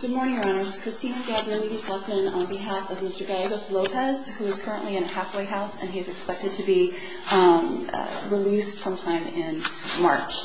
Good morning, Your Honors. Christina Gabriel, Ladies Luckman, on behalf of Mr. Gallegos-Lopez, who is currently in a halfway house and he is expected to be released sometime in March.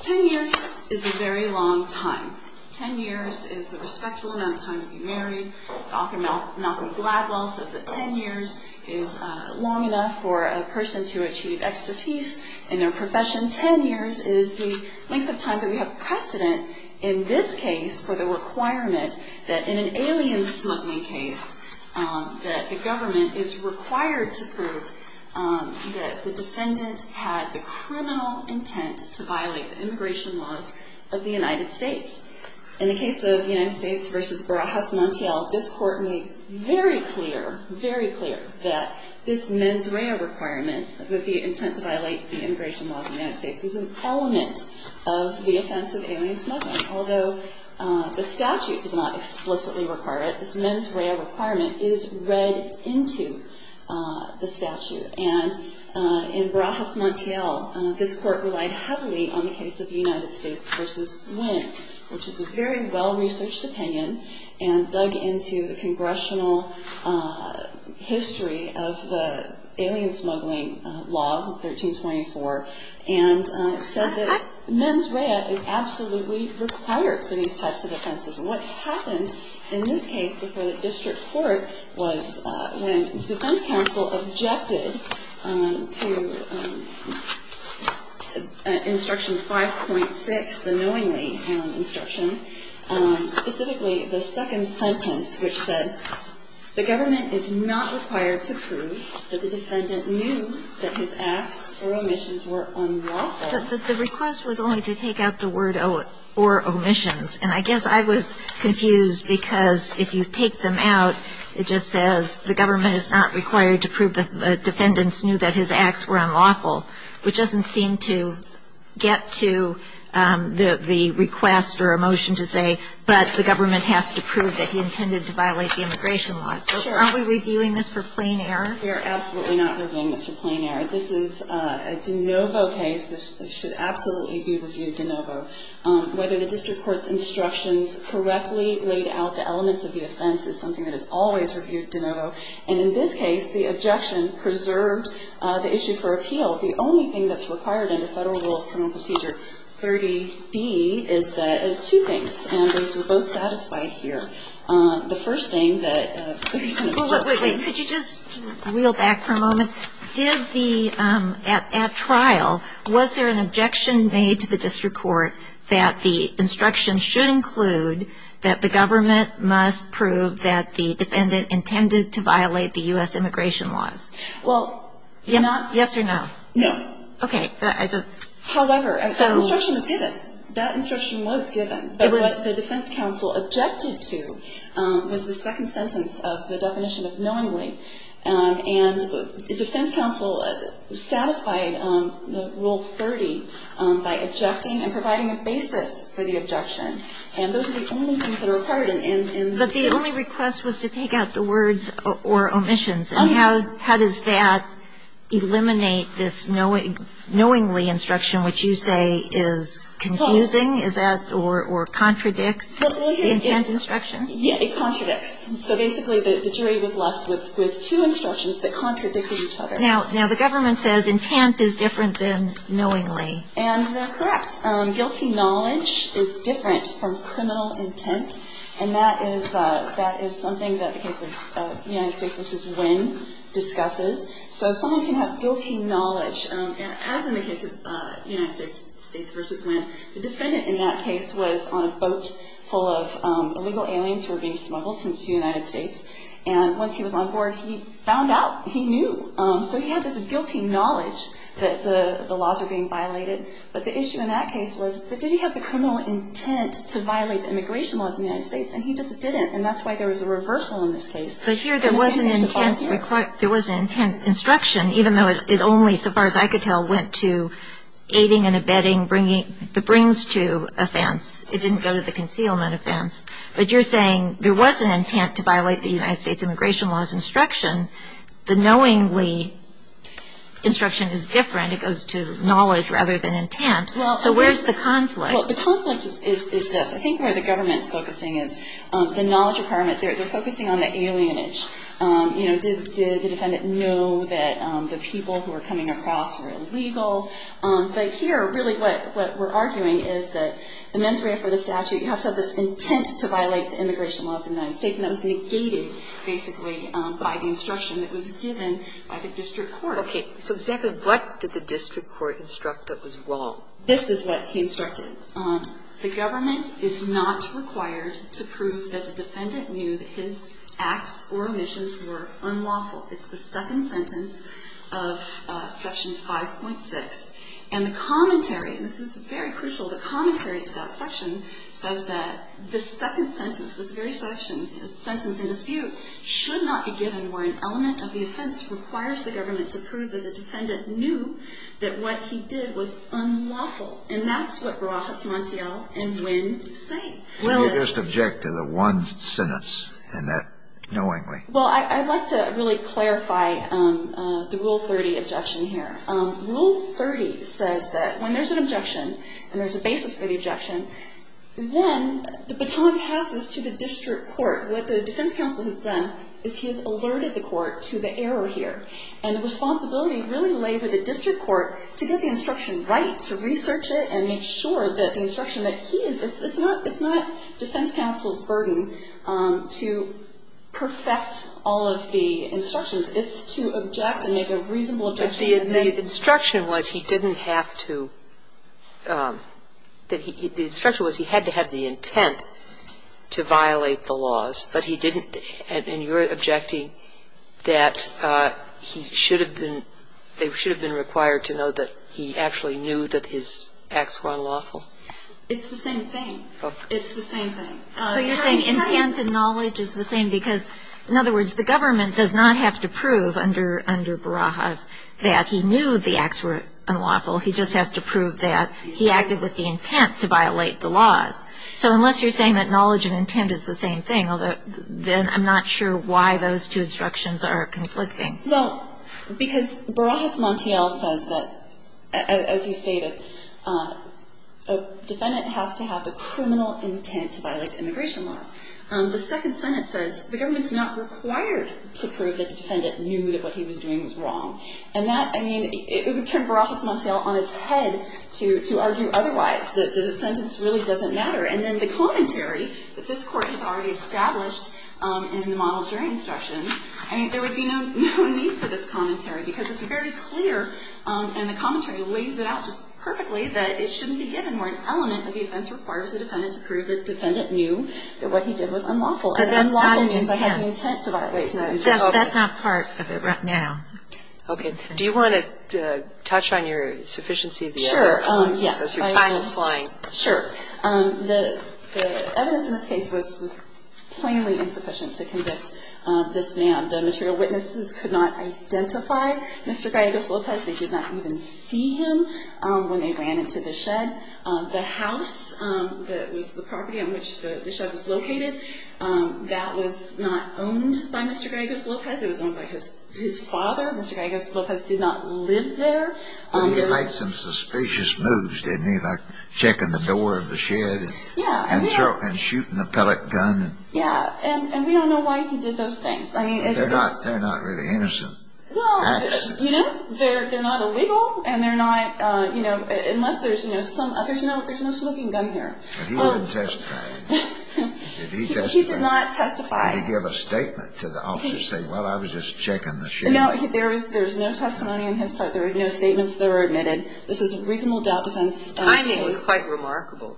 Ten years is a very long time. Ten years is a respectful amount of time to be married. Author Malcolm Gladwell says that ten years is long enough for a person to achieve expertise in their profession. Ten years is the length of time that we have precedent in this case for the requirement that in an alien smuggling case, that the government is required to prove that the defendant had the criminal intent to violate the immigration laws of the United States. In the case of the United States v. Barajas Montiel, this Court made very clear, very clear, that this mens rea requirement, the intent to violate the immigration laws of the United States, is an element of the offense of alien smuggling. Although the statute does not explicitly require it, this mens rea requirement is read into the statute. And in Barajas Montiel, this Court relied heavily on the case of the United States v. Nguyen, which is a very well-researched opinion and dug into the congressional history of the alien smuggling laws of 1324 and said that mens rea is absolutely required for these types of offenses. What happened in this case before the district court was when defense counsel objected to instruction 5.6, the knowingly instruction, specifically the second sentence, which said, the government is not required to prove that the defendant knew that his acts or omissions were unlawful. The request was only to take out the word or omissions. And I guess I was confused because if you take them out, it just says, the government is not required to prove that the defendants knew that his acts were unlawful, which doesn't seem to get to the request or a motion to say, but the government has to prove that he intended to violate the immigration laws. So aren't we reviewing this for plain error? We are absolutely not reviewing this for plain error. This is a de novo case. This should absolutely be reviewed de novo. Whether the district court's instructions correctly laid out the elements of the offense is something that is always reviewed de novo. And in this case, the objection preserved the issue for appeal. The only thing that's required under Federal Rule of Criminal Procedure 30d is that there are two things, and these were both satisfied here. The first thing that if you send it to me. Wait, wait, wait. Could you just reel back for a moment? Did the at trial, was there an objection made to the district court that the instruction should include that the government must prove that the defendant intended to violate the U.S. immigration laws? Well, yes. Yes or no? No. Okay. However, an instruction was given. That instruction was given. But what the defense counsel objected to was the second sentence of the definition of knowingly. And the defense counsel satisfied Rule 30 by objecting and providing a basis for the objection. And those are the only things that are required in the bill. But the only request was to take out the words or omissions. And how does that eliminate this knowingly instruction, which you say is confusing? Is that or contradicts the intent instruction? Yes, it contradicts. So basically the jury was left with two instructions that contradicted each other. Now the government says intent is different than knowingly. And they're correct. Guilty knowledge is different from criminal intent. And that is something that the case of United States v. Wynn discusses. So someone can have guilty knowledge, as in the case of United States v. Wynn, the defendant in that case was on a boat full of illegal aliens who were being smuggled into the United States. And once he was on board, he found out, he knew. So he had this guilty knowledge that the laws were being violated. But the issue in that case was, but did he have the criminal intent to violate the immigration laws in the United States? And he just didn't. And that's why there was a reversal in this case. But here there was an intent instruction, even though it only, so far as I could tell, went to aiding and abetting the brings-to offense. It didn't go to the concealment offense. But you're saying there was an intent to violate the United States immigration laws instruction. The knowingly instruction is different. It goes to knowledge rather than intent. So where's the conflict? Well, the conflict is this. I think where the government is focusing is the knowledge department, they're focusing on the alienage. Did the defendant know that the people who were coming across were illegal? But here, really what we're arguing is that the mens rea for the statute, you have to have this intent to violate the immigration laws in the United States, and that was negated, basically, by the instruction that was given by the district court. Okay. So exactly what did the district court instruct that was wrong? This is what he instructed. The government is not required to prove that the defendant knew that his acts or omissions were unlawful. It's the second sentence of Section 5.6. And the commentary, and this is very crucial, the commentary to that section says that the second sentence, this very sentence in dispute, should not be given where an element of the offense requires the government to prove that the defendant knew that what he did was unlawful. And that's what Rojas Montiel and Nguyen say. You just object to the one sentence and that knowingly. Well, I'd like to really clarify the Rule 30 objection here. Rule 30 says that when there's an objection and there's a basis for the objection, then the baton passes to the district court. What the defense counsel has done is he has alerted the court to the error here. And the responsibility really lay with the district court to get the instruction right, to research it and make sure that the instruction that he gave was correct. And that's what I'm saying. It's not defense counsel's burden to perfect all of the instructions. It's to object and make a reasonable objection. But the instruction was he didn't have to – the instruction was he had to have the intent to violate the laws, but he didn't. And you're objecting that he should have been – they should have been required to know that he actually knew that his acts were unlawful. It's the same thing. It's the same thing. So you're saying intent and knowledge is the same because, in other words, the government does not have to prove under Barajas that he knew the acts were unlawful. He just has to prove that he acted with the intent to violate the laws. So unless you're saying that knowledge and intent is the same thing, then I'm not sure why those two instructions are conflicting. Well, because Barajas-Montiel says that, as you stated, a defendant has to have the criminal intent to violate immigration laws. The Second Senate says the government's not required to prove that the defendant knew that what he was doing was wrong. And that, I mean, it would turn Barajas-Montiel on its head to argue otherwise, that the sentence really doesn't matter. And then the commentary that this Court has already established in the model during instructions, I mean, there would be no need for this commentary because it's very clear, and the commentary lays it out just perfectly, that it shouldn't be given where an element of the offense requires the defendant to prove that the defendant knew that what he did was unlawful. But unlawful means I have the intent to violate. That's not part of it right now. Okay. Do you want to touch on your sufficiency of the evidence? Sure. Yes. Because your time is flying. Sure. The evidence in this case was plainly insufficient to convict this man. The material witnesses could not identify Mr. Griegos-Lopez. They did not even see him when they ran into the shed. The house that was the property on which the shed was located, that was not owned by Mr. Griegos-Lopez. It was owned by his father. Mr. Griegos-Lopez did not live there. But he made some suspicious moves, didn't he? Like checking the door of the shed. Yeah. And shooting the pellet gun. Yeah. And we don't know why he did those things. I mean, it's just – They're not really innocent acts. Well, you know, they're not illegal and they're not, you know, unless there's, you know, there's no smoking gun here. But he wouldn't testify. He did not testify. Did he give a statement to the officers saying, well, I was just checking the shed? No, there was no testimony on his part. There were no statements that were admitted. This is a reasonable doubt defense. The timing was quite remarkable.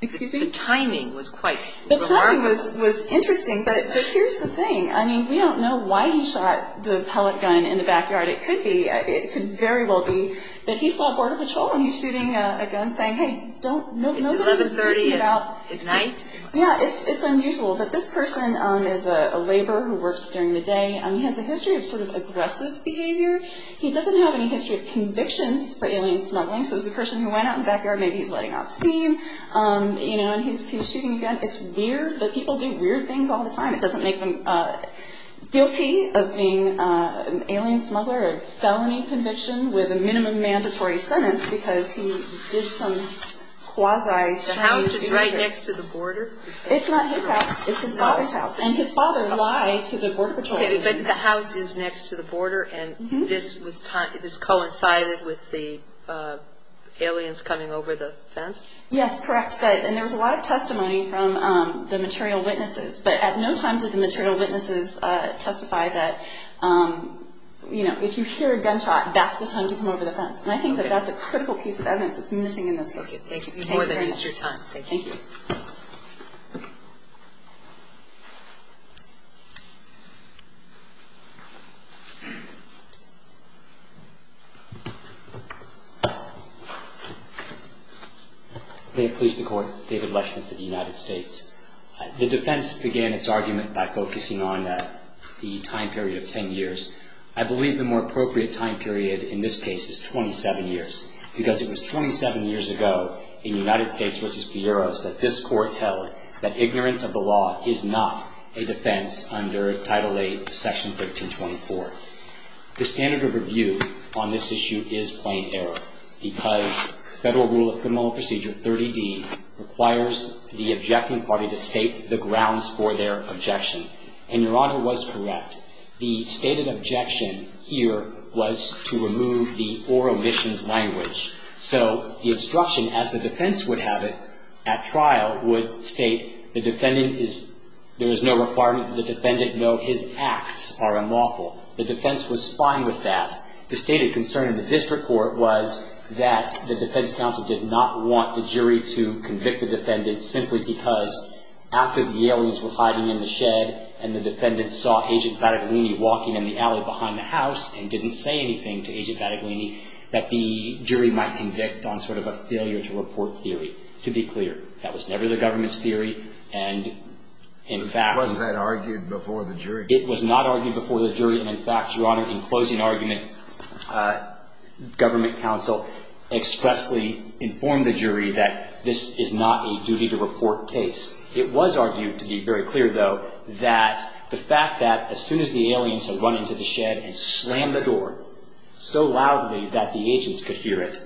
Excuse me? The timing was quite remarkable. The timing was interesting. But here's the thing. I mean, we don't know why he shot the pellet gun in the backyard. It could be. It could very well be that he saw Border Patrol and he's shooting a gun saying, hey, don't – It's 1130 at night? Yeah. It's unusual. But this person is a laborer who works during the day. He has a history of sort of aggressive behavior. He doesn't have any history of convictions for alien smuggling. So this is a person who went out in the backyard, maybe he's letting off steam, you know, and he's shooting a gun. It's weird. But people do weird things all the time. It doesn't make them guilty of being an alien smuggler or a felony conviction with a minimum mandatory sentence because he did some quasi – The house is right next to the border? It's not his house. It's his father's house. And his father lied to the Border Patrol. But the house is next to the border and this coincided with the aliens coming over the fence? Yes, correct. And there was a lot of testimony from the material witnesses. But at no time did the material witnesses testify that, you know, if you hear a gunshot, that's the time to come over the fence. And I think that that's a critical piece of evidence that's missing in this case. Thank you. We've used your time. Thank you. May it please the Court. David Leshman for the United States. The defense began its argument by focusing on the time period of 10 years. I believe the more appropriate time period in this case is 27 years because it was 27 years ago in United States v. Fierro's that this court held that ignorance of the law is not a defense under Title VIII, Section 1324. The standard of review on this issue is plain error because Federal Rule of Criminal Procedure 30D requires the objecting party to state the grounds for their objection. And Your Honor was correct. The stated objection here was to remove the or omissions language. So the instruction as the defense would have it at trial would state the defendant is, there is no requirement that the defendant know his acts are unlawful. The defense was fine with that. The stated concern of the district court was that the defense counsel did not want the jury to convict the defendant simply because after the aliens were hiding in the shed and the defendant saw Agent Battaglini walking in the alley behind the house and didn't say anything to Agent Battaglini, that the jury might convict on sort of a failure to report theory. To be clear, that was never the government's theory and in fact. It was not argued before the jury. It was not argued before the jury and in fact, Your Honor, in closing argument government counsel expressly informed the jury that this is not a duty to report case. It was argued to be very clear though that the fact that as soon as the aliens had run into the shed and slammed the door so loudly that the agents could hear it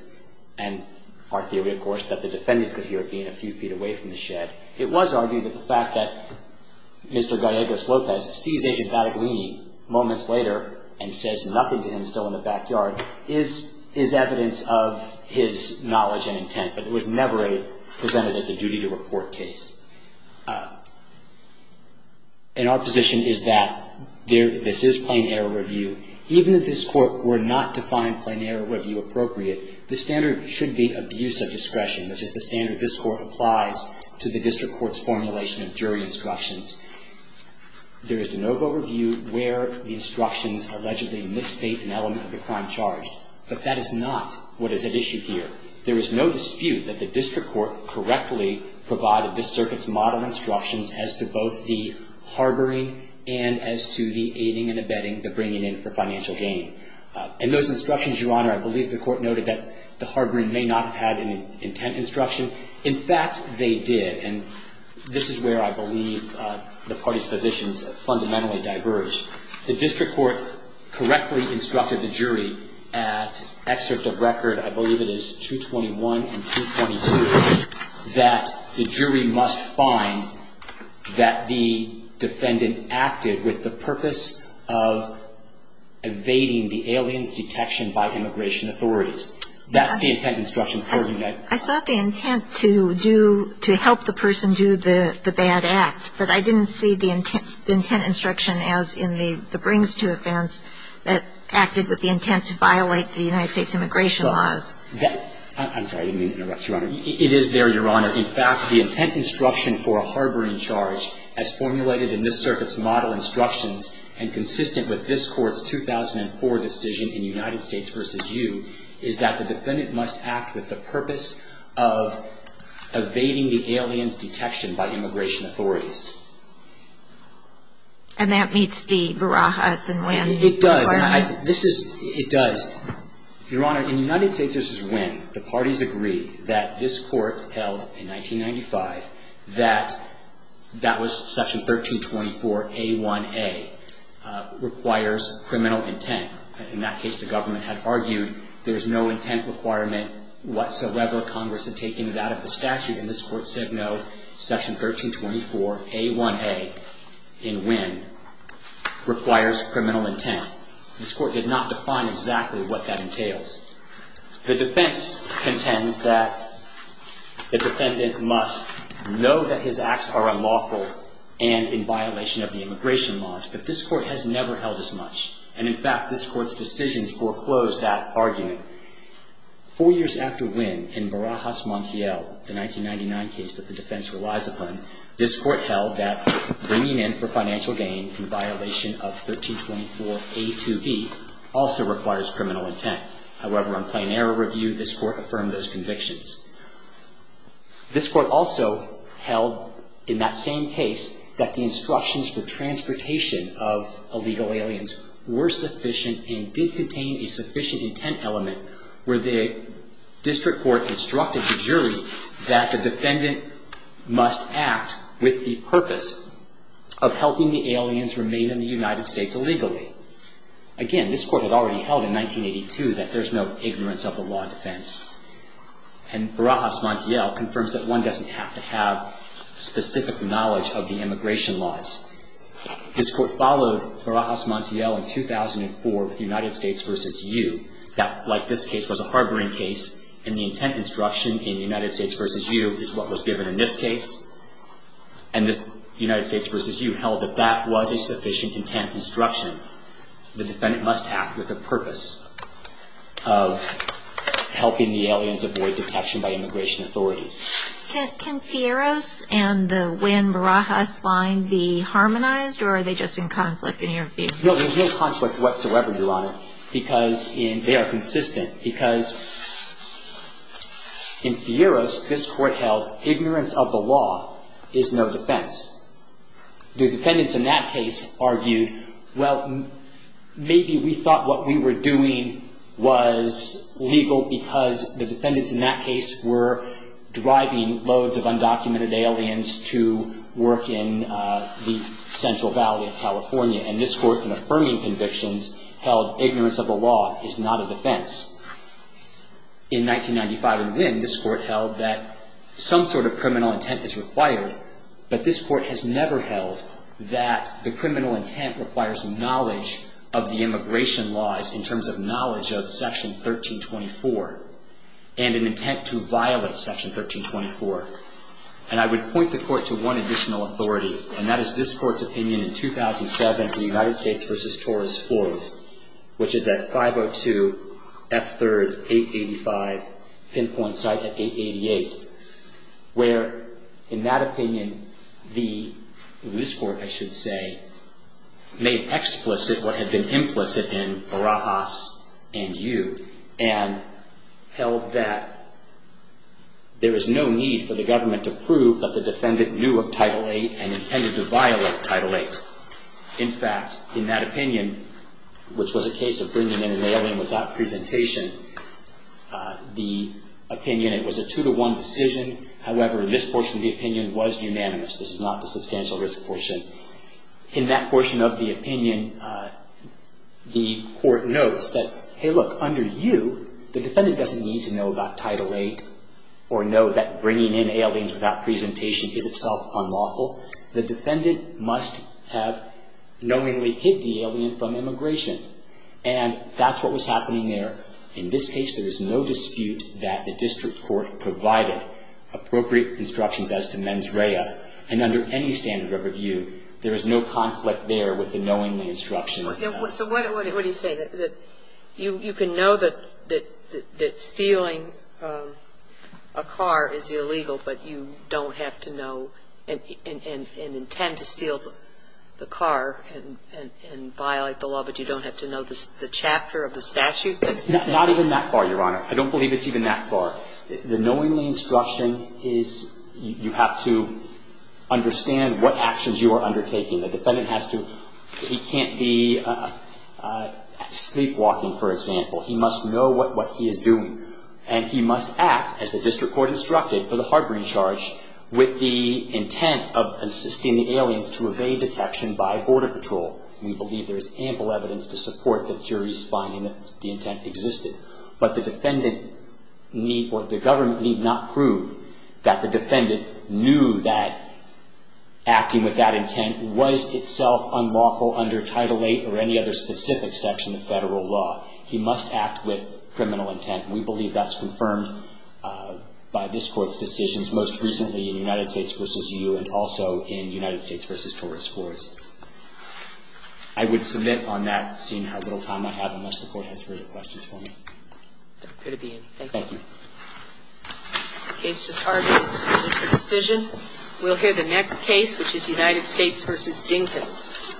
and our theory, of course, that the defendant could hear it being a few feet away from the shed, it was argued that the fact that Mr. Gallegos-Lopez sees Agent Battaglini moments later and says nothing to him still in the backyard is evidence of his knowledge and intent, but it was never presented as a duty to report case. And our position is that this is plain error review. Even if this Court were not to find plain error review appropriate, the standard should be abuse of discretion, which is the standard this Court applies to the district court's formulation of jury instructions. There is de novo review where the instructions allegedly misstate an element of the crime charged, but that is not what is at issue here. There is no dispute that the district court correctly provided this circuit's model instructions as to both the harboring and as to the aiding and abetting, the bringing in for financial gain. In those instructions, Your Honor, I believe the court noted that the harboring may not have had an intent instruction. In fact, they did, and this is where I believe the parties' positions fundamentally diverge. The district court correctly instructed the jury at excerpt of record, I believe it is 221 and 222, that the jury must find that the defendant acted with the purpose of evading the alien's detection by immigration authorities. That's the intent instruction. I saw the intent to do, to help the person do the bad act, but I didn't see the intent instruction as in the brings to offense that acted with the intent to violate the United States immigration laws. I'm sorry, I didn't mean to interrupt, Your Honor. It is there, Your Honor. In fact, the intent instruction for a harboring charge as formulated in this circuit's model instructions and consistent with this court's 2004 decision in United States v. U. is that the defendant must act with the purpose of evading the alien's detection by immigration authorities. And that meets the Barajas and Winn. It does. This is, it does. Your Honor, in the United States v. Winn, the parties agree that this court held in 1995 that that was section 1324A1A, requires criminal intent. In that case, the government had argued there's no intent requirement whatsoever. Congress had taken it out of the statute, and this court said no. Section 1324A1A in Winn requires criminal intent. This court did not define exactly what that entails. The defense contends that the defendant must know that his acts are unlawful and in violation of the immigration laws, but this court has never held as much. And in fact, this court's decisions foreclose that argument. Four years after Winn in Barajas Montiel, the 1999 case that the defense relies upon, this court held that bringing in for financial gain in violation of 1324A2B also requires criminal intent. However, on plain error review, this court affirmed those convictions. This court also held in that same case that the instructions for transportation of illegal aliens were sufficient and did contain a sufficient intent element where the district court instructed the jury that the defendant must act with the purpose of helping the aliens remain in the United States illegally. Again, this court had already held in 1982 that there's no ignorance of the law of defense. And Barajas Montiel confirms that one doesn't have to have specific knowledge of the immigration laws. This court followed Barajas Montiel in 2004 with United States v. U. That, like this case, was a harboring case, and the intent instruction in United States v. U. is what was given in this case. And United States v. U. held that that was a sufficient intent instruction. The defendant must act with the purpose of helping the aliens avoid detection by immigration authorities. Can Fierros and the Wynn-Barajas line be harmonized, or are they just in conflict in your view? No, there's no conflict whatsoever, Your Honor, because they are consistent. Because in Fierros, this court held ignorance of the law is no defense. The defendants in that case argued, well, maybe we thought what we were doing was legal because the defendants in that case were driving loads of undocumented aliens to work in the Central Valley of California. And this court, in affirming convictions, held ignorance of the law is not a defense. In 1995 and then, this court held that some sort of criminal intent is required, but this court has never held that the criminal intent requires knowledge of the immigration laws in terms of knowledge of Section 1324 and an intent to violate Section 1324. And I would point the court to one additional authority, and that is this court's opinion in 2007 in United States v. Torres Floyds, which is at 502 F. 3rd, 885, pinpoint site at 888, where in that opinion, this court, I should say, made explicit what had been implicit in Barajas and you, and held that there is no need for the government to prove that the defendant knew of Title VIII and intended to violate Title VIII. In fact, in that opinion, which was a case of bringing in an alien without presentation, the opinion, it was a two-to-one decision. However, this portion of the opinion was unanimous. This is not the substantial risk portion. In that portion of the opinion, the court notes that, hey, look, under you, the defendant doesn't need to know about Title VIII or know that bringing in aliens without presentation is itself unlawful. The defendant must have knowingly hid the alien from immigration. And that's what was happening there. In this case, there is no dispute that the district court provided appropriate instructions as to mens rea. And under any standard of review, there is no conflict there with the knowingly instruction. So what do you say, that you can know that stealing a car is illegal, but you don't have to know and intend to steal the car and violate the law, but you don't have to know the chapter of the statute? Not even that far, Your Honor. I don't believe it's even that far. The knowingly instruction is you have to understand what actions you are undertaking. The defendant has to – he can't be sleepwalking, for example. He must know what he is doing. And he must act, as the district court instructed, for the harboring charge with the intent of assisting the aliens to evade detection by border patrol. We believe there is ample evidence to support the jury's finding that the intent existed. But the defendant need – or the government need not prove that the defendant knew that acting with that intent was itself unlawful under Title VIII or any other specific section of federal law. He must act with criminal intent. We believe that's confirmed by this Court's decisions, most recently in United States v. EU and also in United States v. Taurus courts. I would submit on that, seeing how little time I have, unless the Court has further questions for me. Good to be in. Thank you. Thank you. The case is argued as a decision. We'll hear the next case, which is United States v. Dinkins.